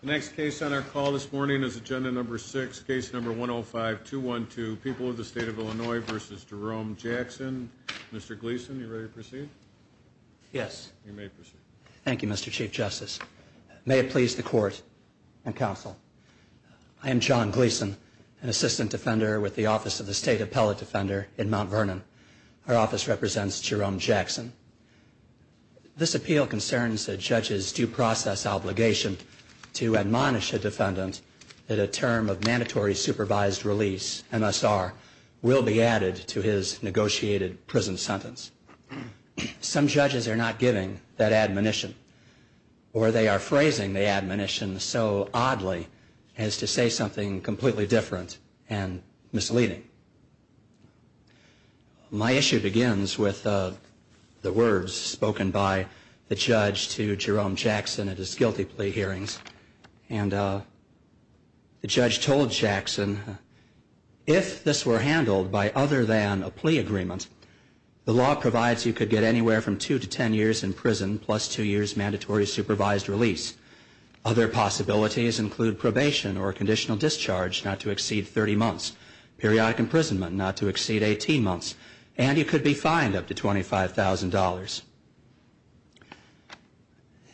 The next case on our call this morning is Agenda No. 6, Case No. 105-212, People of the State of Illinois v. Jerome Jackson. Mr. Gleason, are you ready to proceed? Yes. You may proceed. Thank you, Mr. Chief Justice. May it please the Court and Counsel, I am John Gleason, an assistant defender with the Office of the State Appellate Defender in Mount Vernon. Our office represents Jerome Jackson. This appeal concerns a judge's due process obligation to admonish a defendant that a term of mandatory supervised release, MSR, will be added to his negotiated prison sentence. Some judges are not giving that admonition, or they are phrasing the admonition so oddly as to say something completely different and misleading. My issue begins with the words spoken by the judge to Jerome Jackson at his guilty plea hearings. And the judge told Jackson, If this were handled by other than a plea agreement, the law provides you could get anywhere from two to ten years in prison plus two years' mandatory supervised release. Other possibilities include probation or conditional discharge not to exceed 30 months, periodic imprisonment not to exceed 18 months, and you could be fined up to $25,000.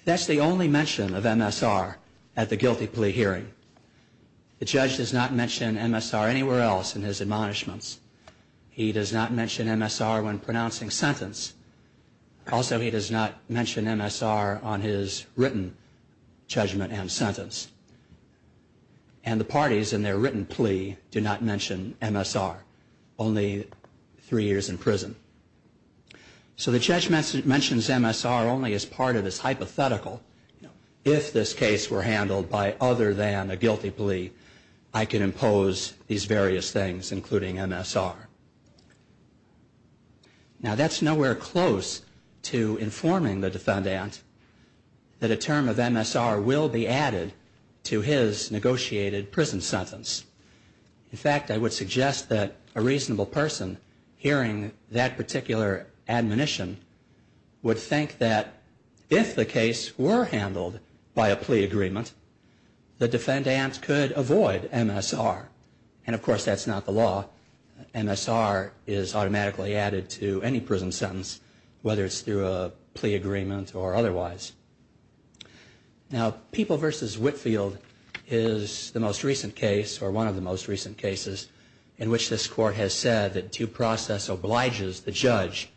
That's the only mention of MSR at the guilty plea hearing. The judge does not mention MSR anywhere else in his admonishments. He does not mention MSR when pronouncing sentence. Also, he does not mention MSR on his written judgment and sentence. And the parties in their written plea do not mention MSR, only three years in prison. So the judge mentions MSR only as part of this hypothetical. If this case were handled by other than a guilty plea, I could impose these various things, including MSR. Now, that's nowhere close to informing the defendant that a term of MSR will be added to his negotiated prison sentence. In fact, I would suggest that a reasonable person hearing that particular admonition would think that if the case were handled by a plea agreement, the defendant could avoid MSR. And, of course, that's not the law. MSR is automatically added to any prison sentence, whether it's through a plea agreement or otherwise. Now, People v. Whitfield is the most recent case, or one of the most recent cases, in which this Court has said that due process obliges the judge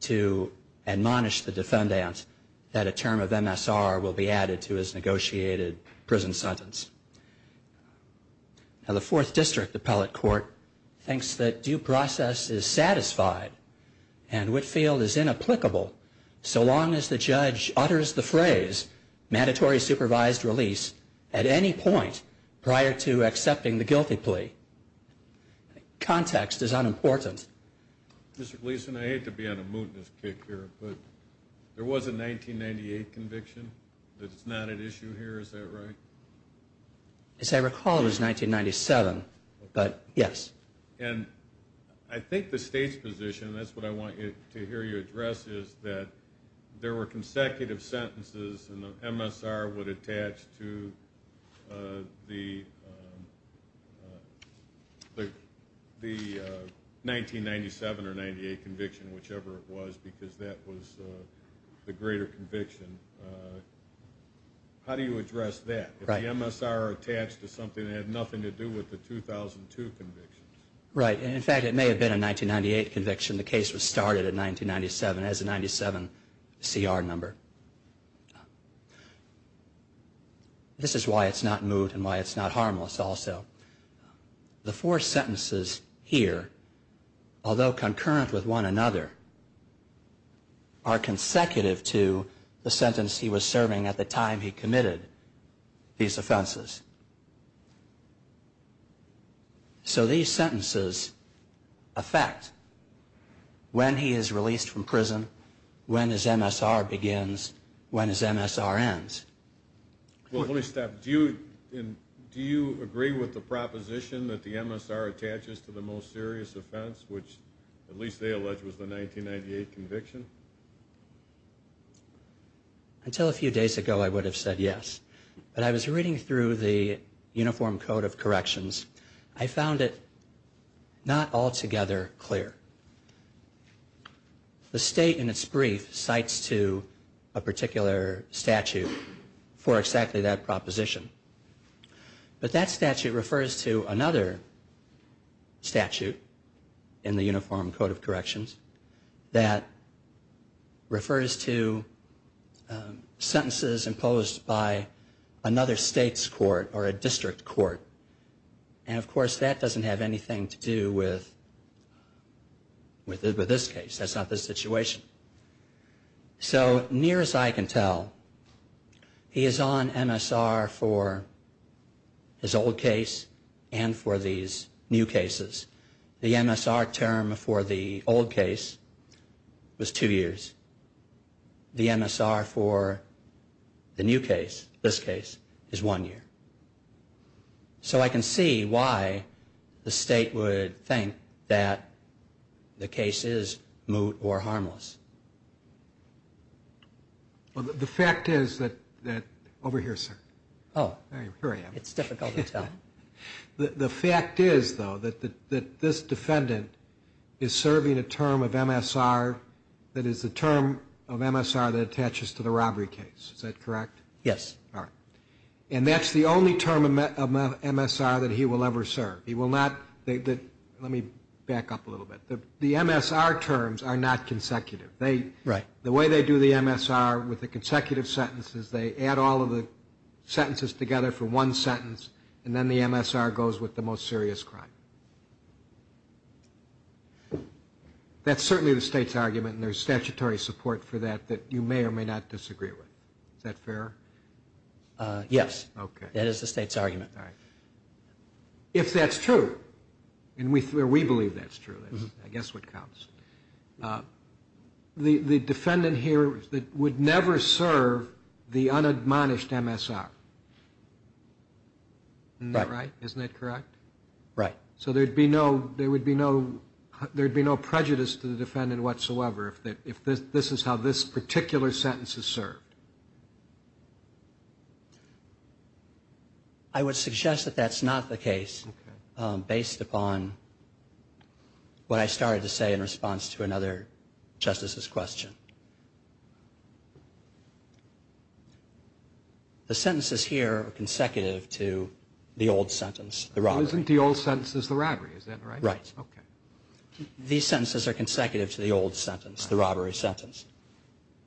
to admonish the defendant that a term of MSR will be added to his negotiated prison sentence. Now, the Fourth District Appellate Court thinks that due process is satisfied and Whitfield is inapplicable so long as the judge utters the phrase, mandatory supervised release, at any point prior to accepting the guilty plea. Context is unimportant. Mr. Gleason, I hate to be on a mootness kick here, but there was a 1998 conviction that's not at issue here. Is that right? As I recall, it was 1997, but yes. And I think the State's position, and that's what I want to hear you address, is that there were consecutive sentences and the MSR would attach to the 1997 or 1998 conviction, whichever it was, because that was the greater conviction. How do you address that? If the MSR attached to something that had nothing to do with the 2002 convictions? Right. In fact, it may have been a 1998 conviction. The case was started in 1997 as a 1997 CR number. This is why it's not moot and why it's not harmless also. The four sentences here, although concurrent with one another, are consecutive to the sentence he was serving at the time he committed these offenses. So these sentences affect when he is released from prison, when his MSR begins, when his MSR ends. Well, Holystaff, do you agree with the proposition that the MSR attaches to the most serious offense, which at least they allege was the 1998 conviction? Until a few days ago I would have said yes. But I was reading through the Uniform Code of Corrections. I found it not altogether clear. The state in its brief cites to a particular statute for exactly that proposition. But that statute refers to another statute in the Uniform Code of Corrections that refers to sentences imposed by another state's court or a district court. And, of course, that doesn't have anything to do with this case. That's not the situation. So near as I can tell, he is on MSR for his old case and for these new cases. The MSR term for the old case was two years. The MSR for the new case, this case, is one year. So I can see why the state would think that the case is moot or harmless. Well, the fact is that over here, sir. Oh. It's difficult to tell. The fact is, though, that this defendant is serving a term of MSR that is the term of MSR that attaches to the robbery case. Is that correct? Yes. All right. And that's the only term of MSR that he will ever serve. He will not... Let me back up a little bit. The MSR terms are not consecutive. Right. The way they do the MSR with the consecutive sentences, they add all of the sentences together for one sentence, and then the MSR goes with the most serious crime. That's certainly the state's argument, and there's statutory support for that that you may or may not disagree with. Is that fair? Yes. Okay. That is the state's argument. All right. If that's true, and we believe that's true, I guess what counts, the defendant here would never serve the unadmonished MSR. Isn't that right? Isn't that correct? Right. So there would be no prejudice to the defendant whatsoever if this is how this particular sentence is served. I would suggest that that's not the case, based upon what I started to say in response to another justice's question. The sentences here are consecutive to the old sentence, the robbery. Well, isn't the old sentence the robbery? Is that right? Right. Okay. These sentences are consecutive to the old sentence, the robbery sentence.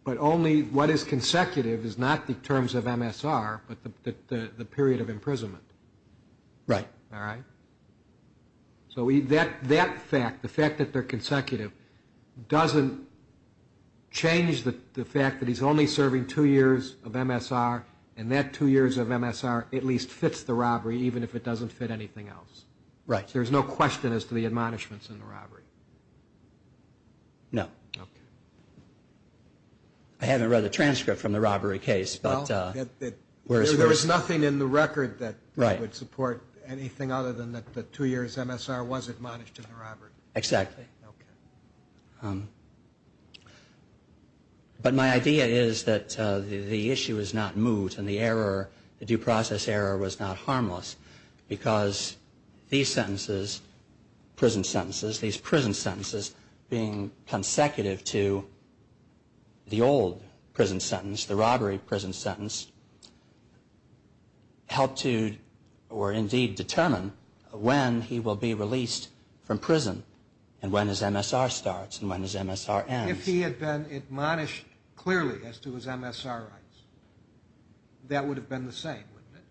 But only what is consecutive is not the terms of MSR, but the period of imprisonment. Right. All right. So that fact, the fact that they're consecutive, doesn't change the fact that he's only serving two years of MSR, and that two years of MSR at least fits the robbery, even if it doesn't fit anything else. Right. There's no question as to the admonishments in the robbery. No. Okay. I haven't read the transcript from the robbery case. There was nothing in the record that would support anything other than that the two years MSR was admonished in the robbery. Exactly. Okay. But my idea is that the issue is not moved, and the error, the due process error was not harmless, because these sentences, prison sentences, these prison sentences being consecutive to the old prison sentence, the robbery prison sentence, help to or indeed determine when he will be released from prison and when his MSR starts and when his MSR ends. If he had been admonished clearly as to his MSR rights, that would have been the same, wouldn't it?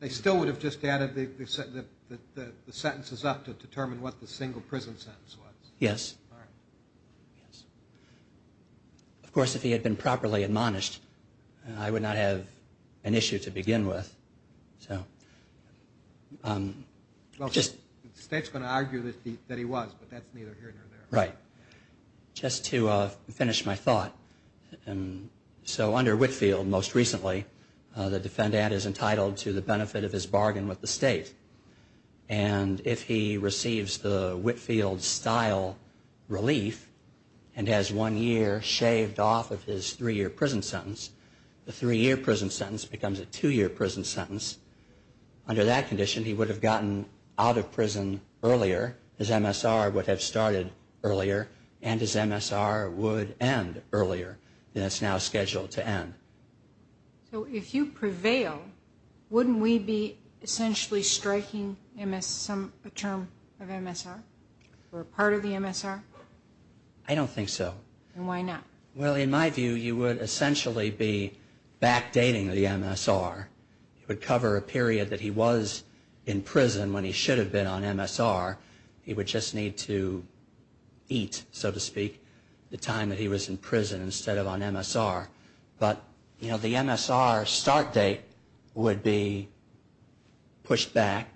They still would have just added the sentences up to determine what the single prison sentence was. Yes. All right. Yes. Of course, if he had been properly admonished, I would not have an issue to begin with, so. Well, the State's going to argue that he was, but that's neither here nor there. Right. Just to finish my thought, so under Whitfield, most recently, the defendant is entitled to the benefit of his bargain with the State, and if he receives the Whitfield-style relief and has one year shaved off of his three-year prison sentence, the three-year prison sentence becomes a two-year prison sentence. Under that condition, he would have gotten out of prison earlier, his MSR would have started earlier, and his MSR would end earlier, and it's now scheduled to end. So if you prevail, wouldn't we be essentially striking a term of MSR or part of the MSR? I don't think so. And why not? Well, in my view, you would essentially be backdating the MSR. It would cover a period that he was in prison when he should have been on MSR. He would just need to eat, so to speak, the time that he was in prison instead of on MSR. But the MSR start date would be pushed back,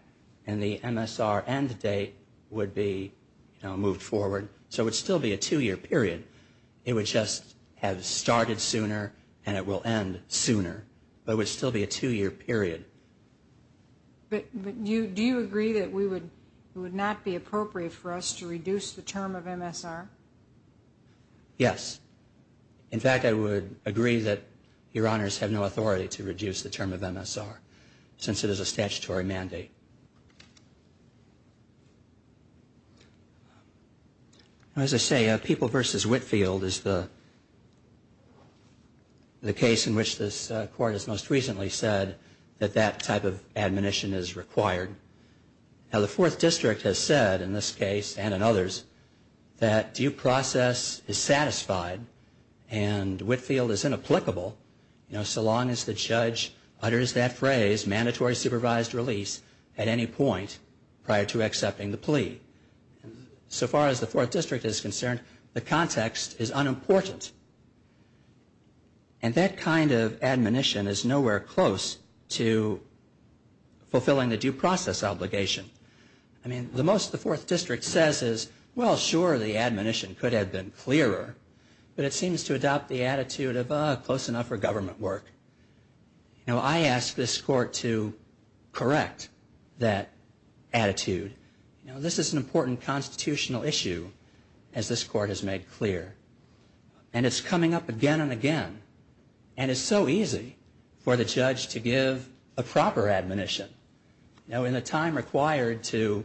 and the MSR end date would be moved forward, so it would still be a two-year period. It would just have started sooner and it will end sooner, but it would still be a two-year period. But do you agree that it would not be appropriate for us to reduce the term of MSR? Yes. In fact, I would agree that Your Honors have no authority to reduce the term of MSR since it is a statutory mandate. As I say, People v. Whitfield is the case in which this Court has most recently said that that type of admonition is required. Now, the Fourth District has said in this case and in others that due process is satisfied and Whitfield is inapplicable so long as the judge utters that phrase, mandatory supervised release, at any point prior to accepting the plea. So far as the Fourth District is concerned, the context is unimportant. And that kind of admonition is nowhere close to fulfilling the due process obligation. I mean, the most the Fourth District says is, well, sure, the admonition could have been clearer, but it seems to adopt the attitude of, ah, close enough for government work. I ask this Court to correct that attitude. This is an important constitutional issue, as this Court has made clear. And it's coming up again and again. And it's so easy for the judge to give a proper admonition. Now, in the time required to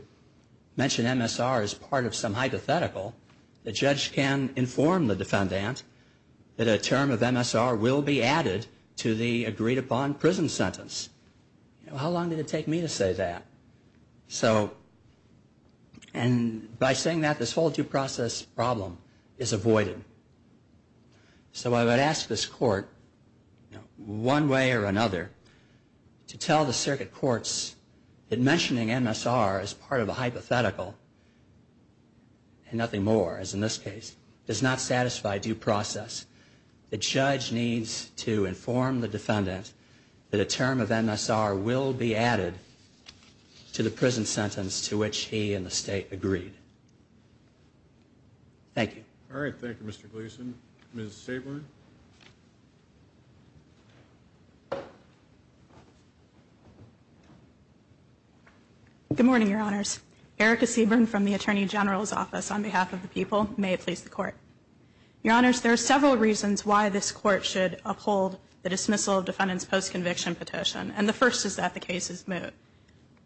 mention MSR as part of some hypothetical, the judge can inform the defendant that a term of MSR will be added to the agreed-upon prison sentence. How long did it take me to say that? So, and by saying that, this whole due process problem is avoided. So I would ask this Court, one way or another, to tell the circuit courts that mentioning MSR as part of a hypothetical, and nothing more, as in this case, does not satisfy due process. The judge needs to inform the defendant that a term of MSR will be added to the prison sentence to which he and the State agreed. Thank you. All right. Thank you, Mr. Gleason. Ms. Seaborn? Good morning, Your Honors. Erica Seaborn from the Attorney General's Office on behalf of the people. May it please the Court. Your Honors, there are several reasons why this Court should uphold the dismissal of defendant's post-conviction petition. And the first is that the case is moot.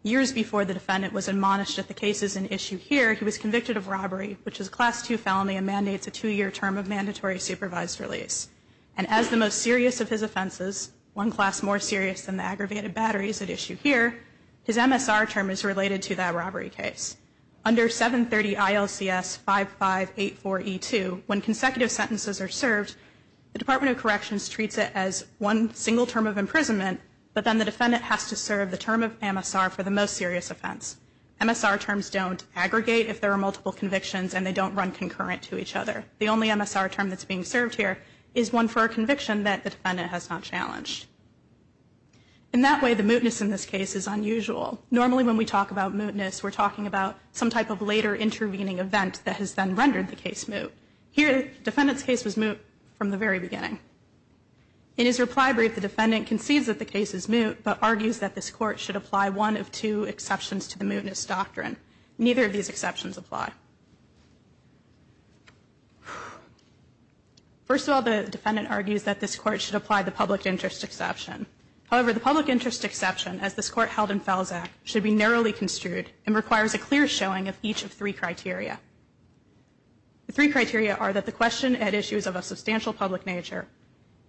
Years before the defendant was admonished that the case is an issue here, he was convicted of robbery, which is a Class II felony and mandates a two-year term of mandatory supervised release. And as the most serious of his offenses, one class more serious than the aggravated batteries at issue here, his MSR term is related to that robbery case. Under 730 ILCS 5584E2, when consecutive sentences are served, the Department of Corrections treats it as one single term of imprisonment, but then the defendant has to serve the term of MSR for the most serious offense. MSR terms don't aggregate if there are multiple convictions and they don't run concurrent to each other. The only MSR term that's being served here is one for a conviction that the defendant has not challenged. In that way, the mootness in this case is unusual. Normally, when we talk about mootness, we're talking about some type of later intervening event that has then rendered the case moot. Here, the defendant's case was moot from the very beginning. In his reply brief, the defendant concedes that the case is moot, but argues that this Court should apply one of two exceptions to the mootness doctrine. Neither of these exceptions apply. First of all, the defendant argues that this Court should apply the public interest exception. However, the public interest exception, as this Court held in Felzack, should be narrowly construed and requires a clear showing of each of three criteria. The three criteria are that the question had issues of a substantial public nature,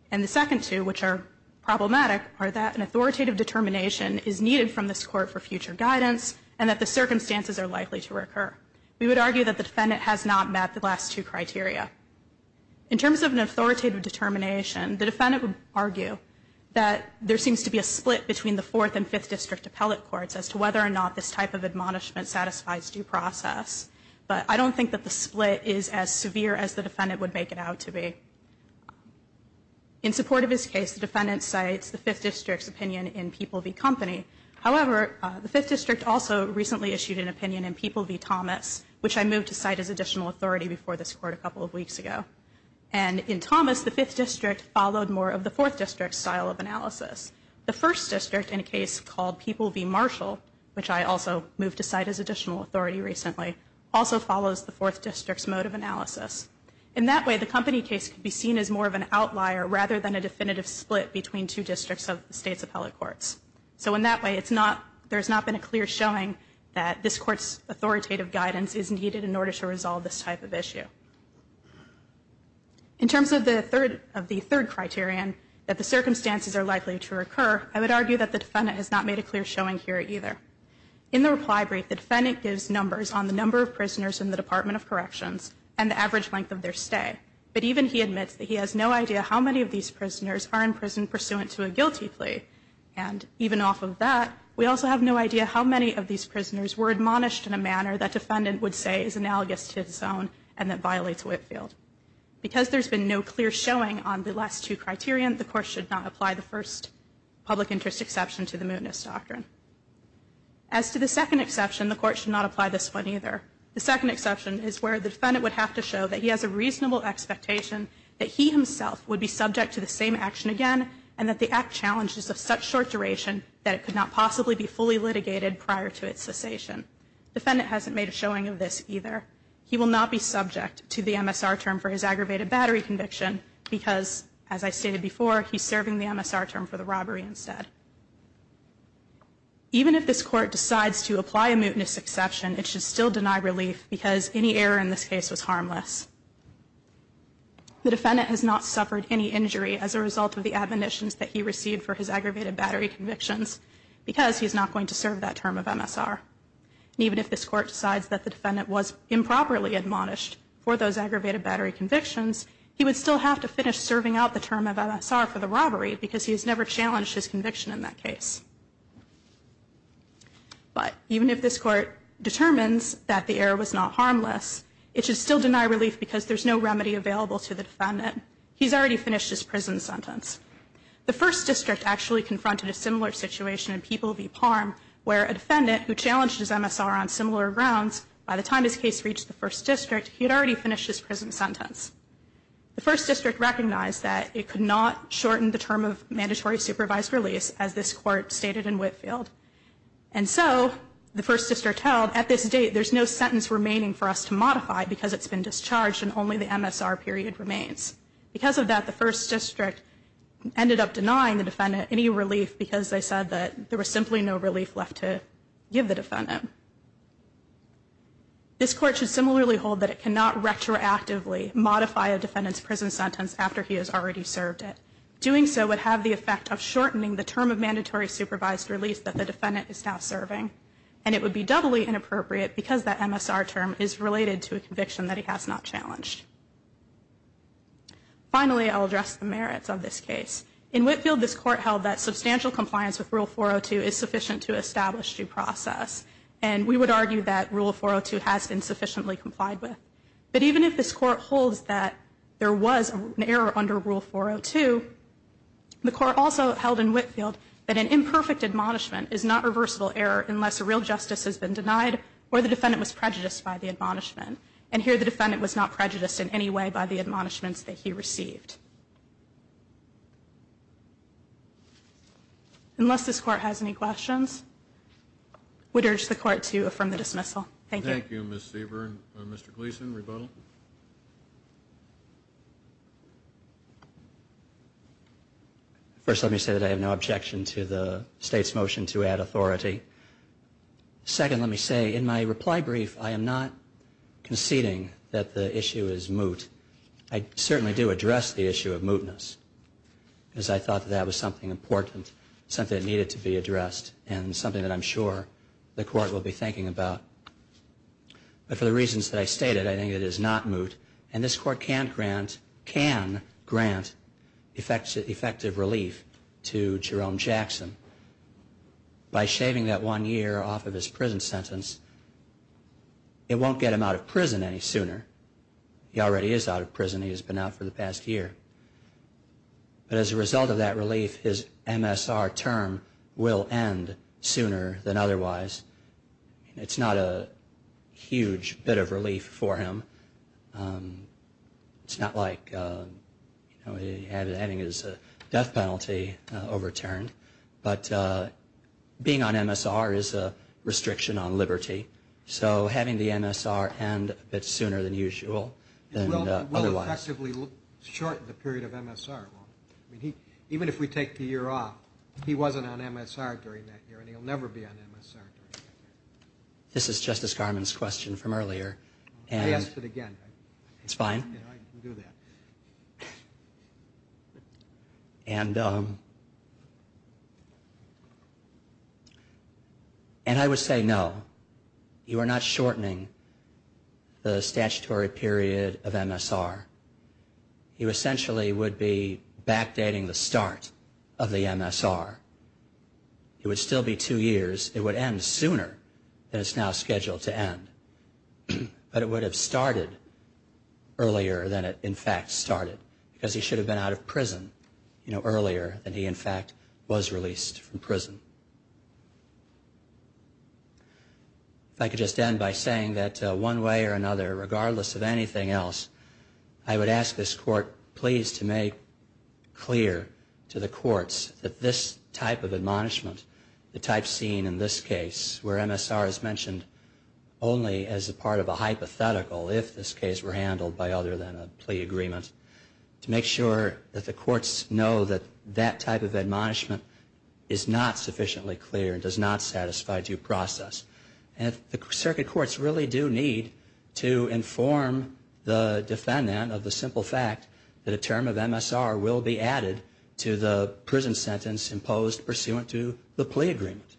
and the second two, which are problematic, are that an authoritative determination is needed from this Court for future guidance and that the circumstances are likely to recur. We would argue that the defendant has not met the last two criteria. In terms of an authoritative determination, the defendant would argue that there seems to be a split between the Fourth and Fifth District appellate courts as to whether or not this type of admonishment satisfies due process. But I don't think that the split is as severe as the defendant would make it out to be. In support of his case, the defendant cites the Fifth District's opinion in People v. Company. However, the Fifth District also recently issued an opinion in People v. Thomas, which I moved to cite as additional authority before this Court a couple of weeks ago. And in Thomas, the Fifth District followed more of the Fourth District's style of analysis. The First District, in a case called People v. Marshall, which I also moved to cite as additional authority recently, also follows the Fourth District's mode of analysis. In that way, the Company case could be seen as more of an outlier rather than a definitive split between two districts of the State's appellate courts. So in that way, there's not been a clear showing that this Court's authoritative guidance is needed in order to resolve this type of issue. In terms of the third criterion, that the circumstances are likely to occur, I would argue that the defendant has not made a clear showing here either. In the reply brief, the defendant gives numbers on the number of prisoners in the Department of Corrections and the average length of their stay. But even he admits that he has no idea how many of these prisoners are in prison pursuant to a guilty plea. And even off of that, we also have no idea how many of these prisoners were admonished in a manner that defendant would say is analogous to his own and that violates Whitefield. Because there's been no clear showing on the last two criterion, the Court should not apply the first public interest exception to the mootness doctrine. As to the second exception, the Court should not apply this one either. The second exception is where the defendant would have to show that he has a reasonable expectation that he himself would be subject to the same action again and that the act challenges of such short duration that it could not possibly be fully litigated prior to its cessation. Defendant hasn't made a showing of this either. He will not be subject to the MSR term for his aggravated battery conviction because, as I stated before, he's serving the MSR term for the robbery instead. Even if this Court decides to apply a mootness exception, it should still deny relief because any error in this case was harmless. The defendant has not suffered any injury as a result of the admonitions that he received for his aggravated battery convictions because he's not going to serve that term of MSR. Even if this Court decides that the defendant was improperly admonished for those aggravated battery convictions, he would still have to finish serving out the term of MSR for the robbery because he has never challenged his conviction in that case. But even if this Court determines that the error was not harmless, it should still deny relief because there's no remedy available to the defendant. He's already finished his prison sentence. The First District actually confronted a similar situation in People v. Palm where a defendant who challenged his MSR on similar grounds, by the time his case reached the First District, he had already finished his prison sentence. The First District recognized that it could not shorten the term of mandatory supervised release as this Court stated in Whitefield. And so the First District held, at this date there's no sentence remaining for us to modify because it's been discharged and only the MSR period remains. Because of that, the First District ended up denying the defendant any relief because they said that there was simply no relief left to give the defendant. This Court should similarly hold that it cannot retroactively modify a defendant's prison sentence after he has already served it. Doing so would have the effect of shortening the term of mandatory supervised release that the defendant is now serving. And it would be doubly inappropriate because that MSR term is related to a conviction that he has not challenged. Finally, I'll address the merits of this case. In Whitefield, this Court held that substantial compliance with Rule 402 is sufficient to establish due process. And we would argue that Rule 402 has been sufficiently complied with. But even if this Court holds that there was an error under Rule 402, the Court also held in Whitefield that an imperfect admonishment is not reversible error unless a real justice has been denied or the defendant was prejudiced by the admonishment. And here the defendant was not prejudiced in any way by the admonishments that he received. Unless this Court has any questions, we'd urge the Court to affirm the dismissal. Thank you. Thank you, Ms. Sieber. Mr. Gleeson, rebuttal. First, let me say that I have no objection to the State's motion to add authority. Second, let me say in my reply brief, I am not conceding that the issue is moot. I certainly do address the issue of mootness because I thought that that was something important, something that needed to be addressed, and something that I'm sure the Court will be thinking about. And this Court can grant effective relief to Jerome Jackson by shaving that one year off of his prison sentence. It won't get him out of prison any sooner. He already is out of prison. He has been out for the past year. But as a result of that relief, his MSR term will end sooner than otherwise. It's not a huge bit of relief for him. It's not like having his death penalty overturned. But being on MSR is a restriction on liberty. So having the MSR end a bit sooner than usual than otherwise. It will effectively shorten the period of MSR, won't it? Even if we take the year off, he wasn't on MSR during that year, and he'll never be on MSR during that year. This is Justice Garmon's question from earlier. I'll ask it again. It's fine. I can do that. And I would say no. You are not shortening the statutory period of MSR. You essentially would be backdating the start of the MSR. It would still be two years. It would end sooner than it's now scheduled to end. But it would have started earlier than it, in fact, started. Because he should have been out of prison earlier than he, in fact, was released from prison. If I could just end by saying that one way or another, regardless of anything else, I would ask this Court, please, to make clear to the courts that this type of admonishment, the type seen in this case where MSR is mentioned only as a part of a hypothetical, if this case were handled by other than a plea agreement, to make sure that the courts know that that type of admonishment is not sufficiently clear and does not satisfy due process. And the circuit courts really do need to inform the defendant of the simple fact that a term of MSR will be added to the prison sentence imposed pursuant to the plea agreement.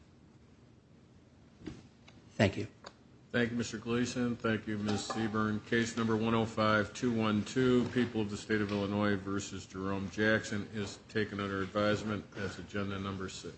Thank you. Thank you, Mr. Gleason. Thank you, Ms. Seaborn. Case number 105212, People of the State of Illinois v. Jerome Jackson, is taken under advisement as agenda number six.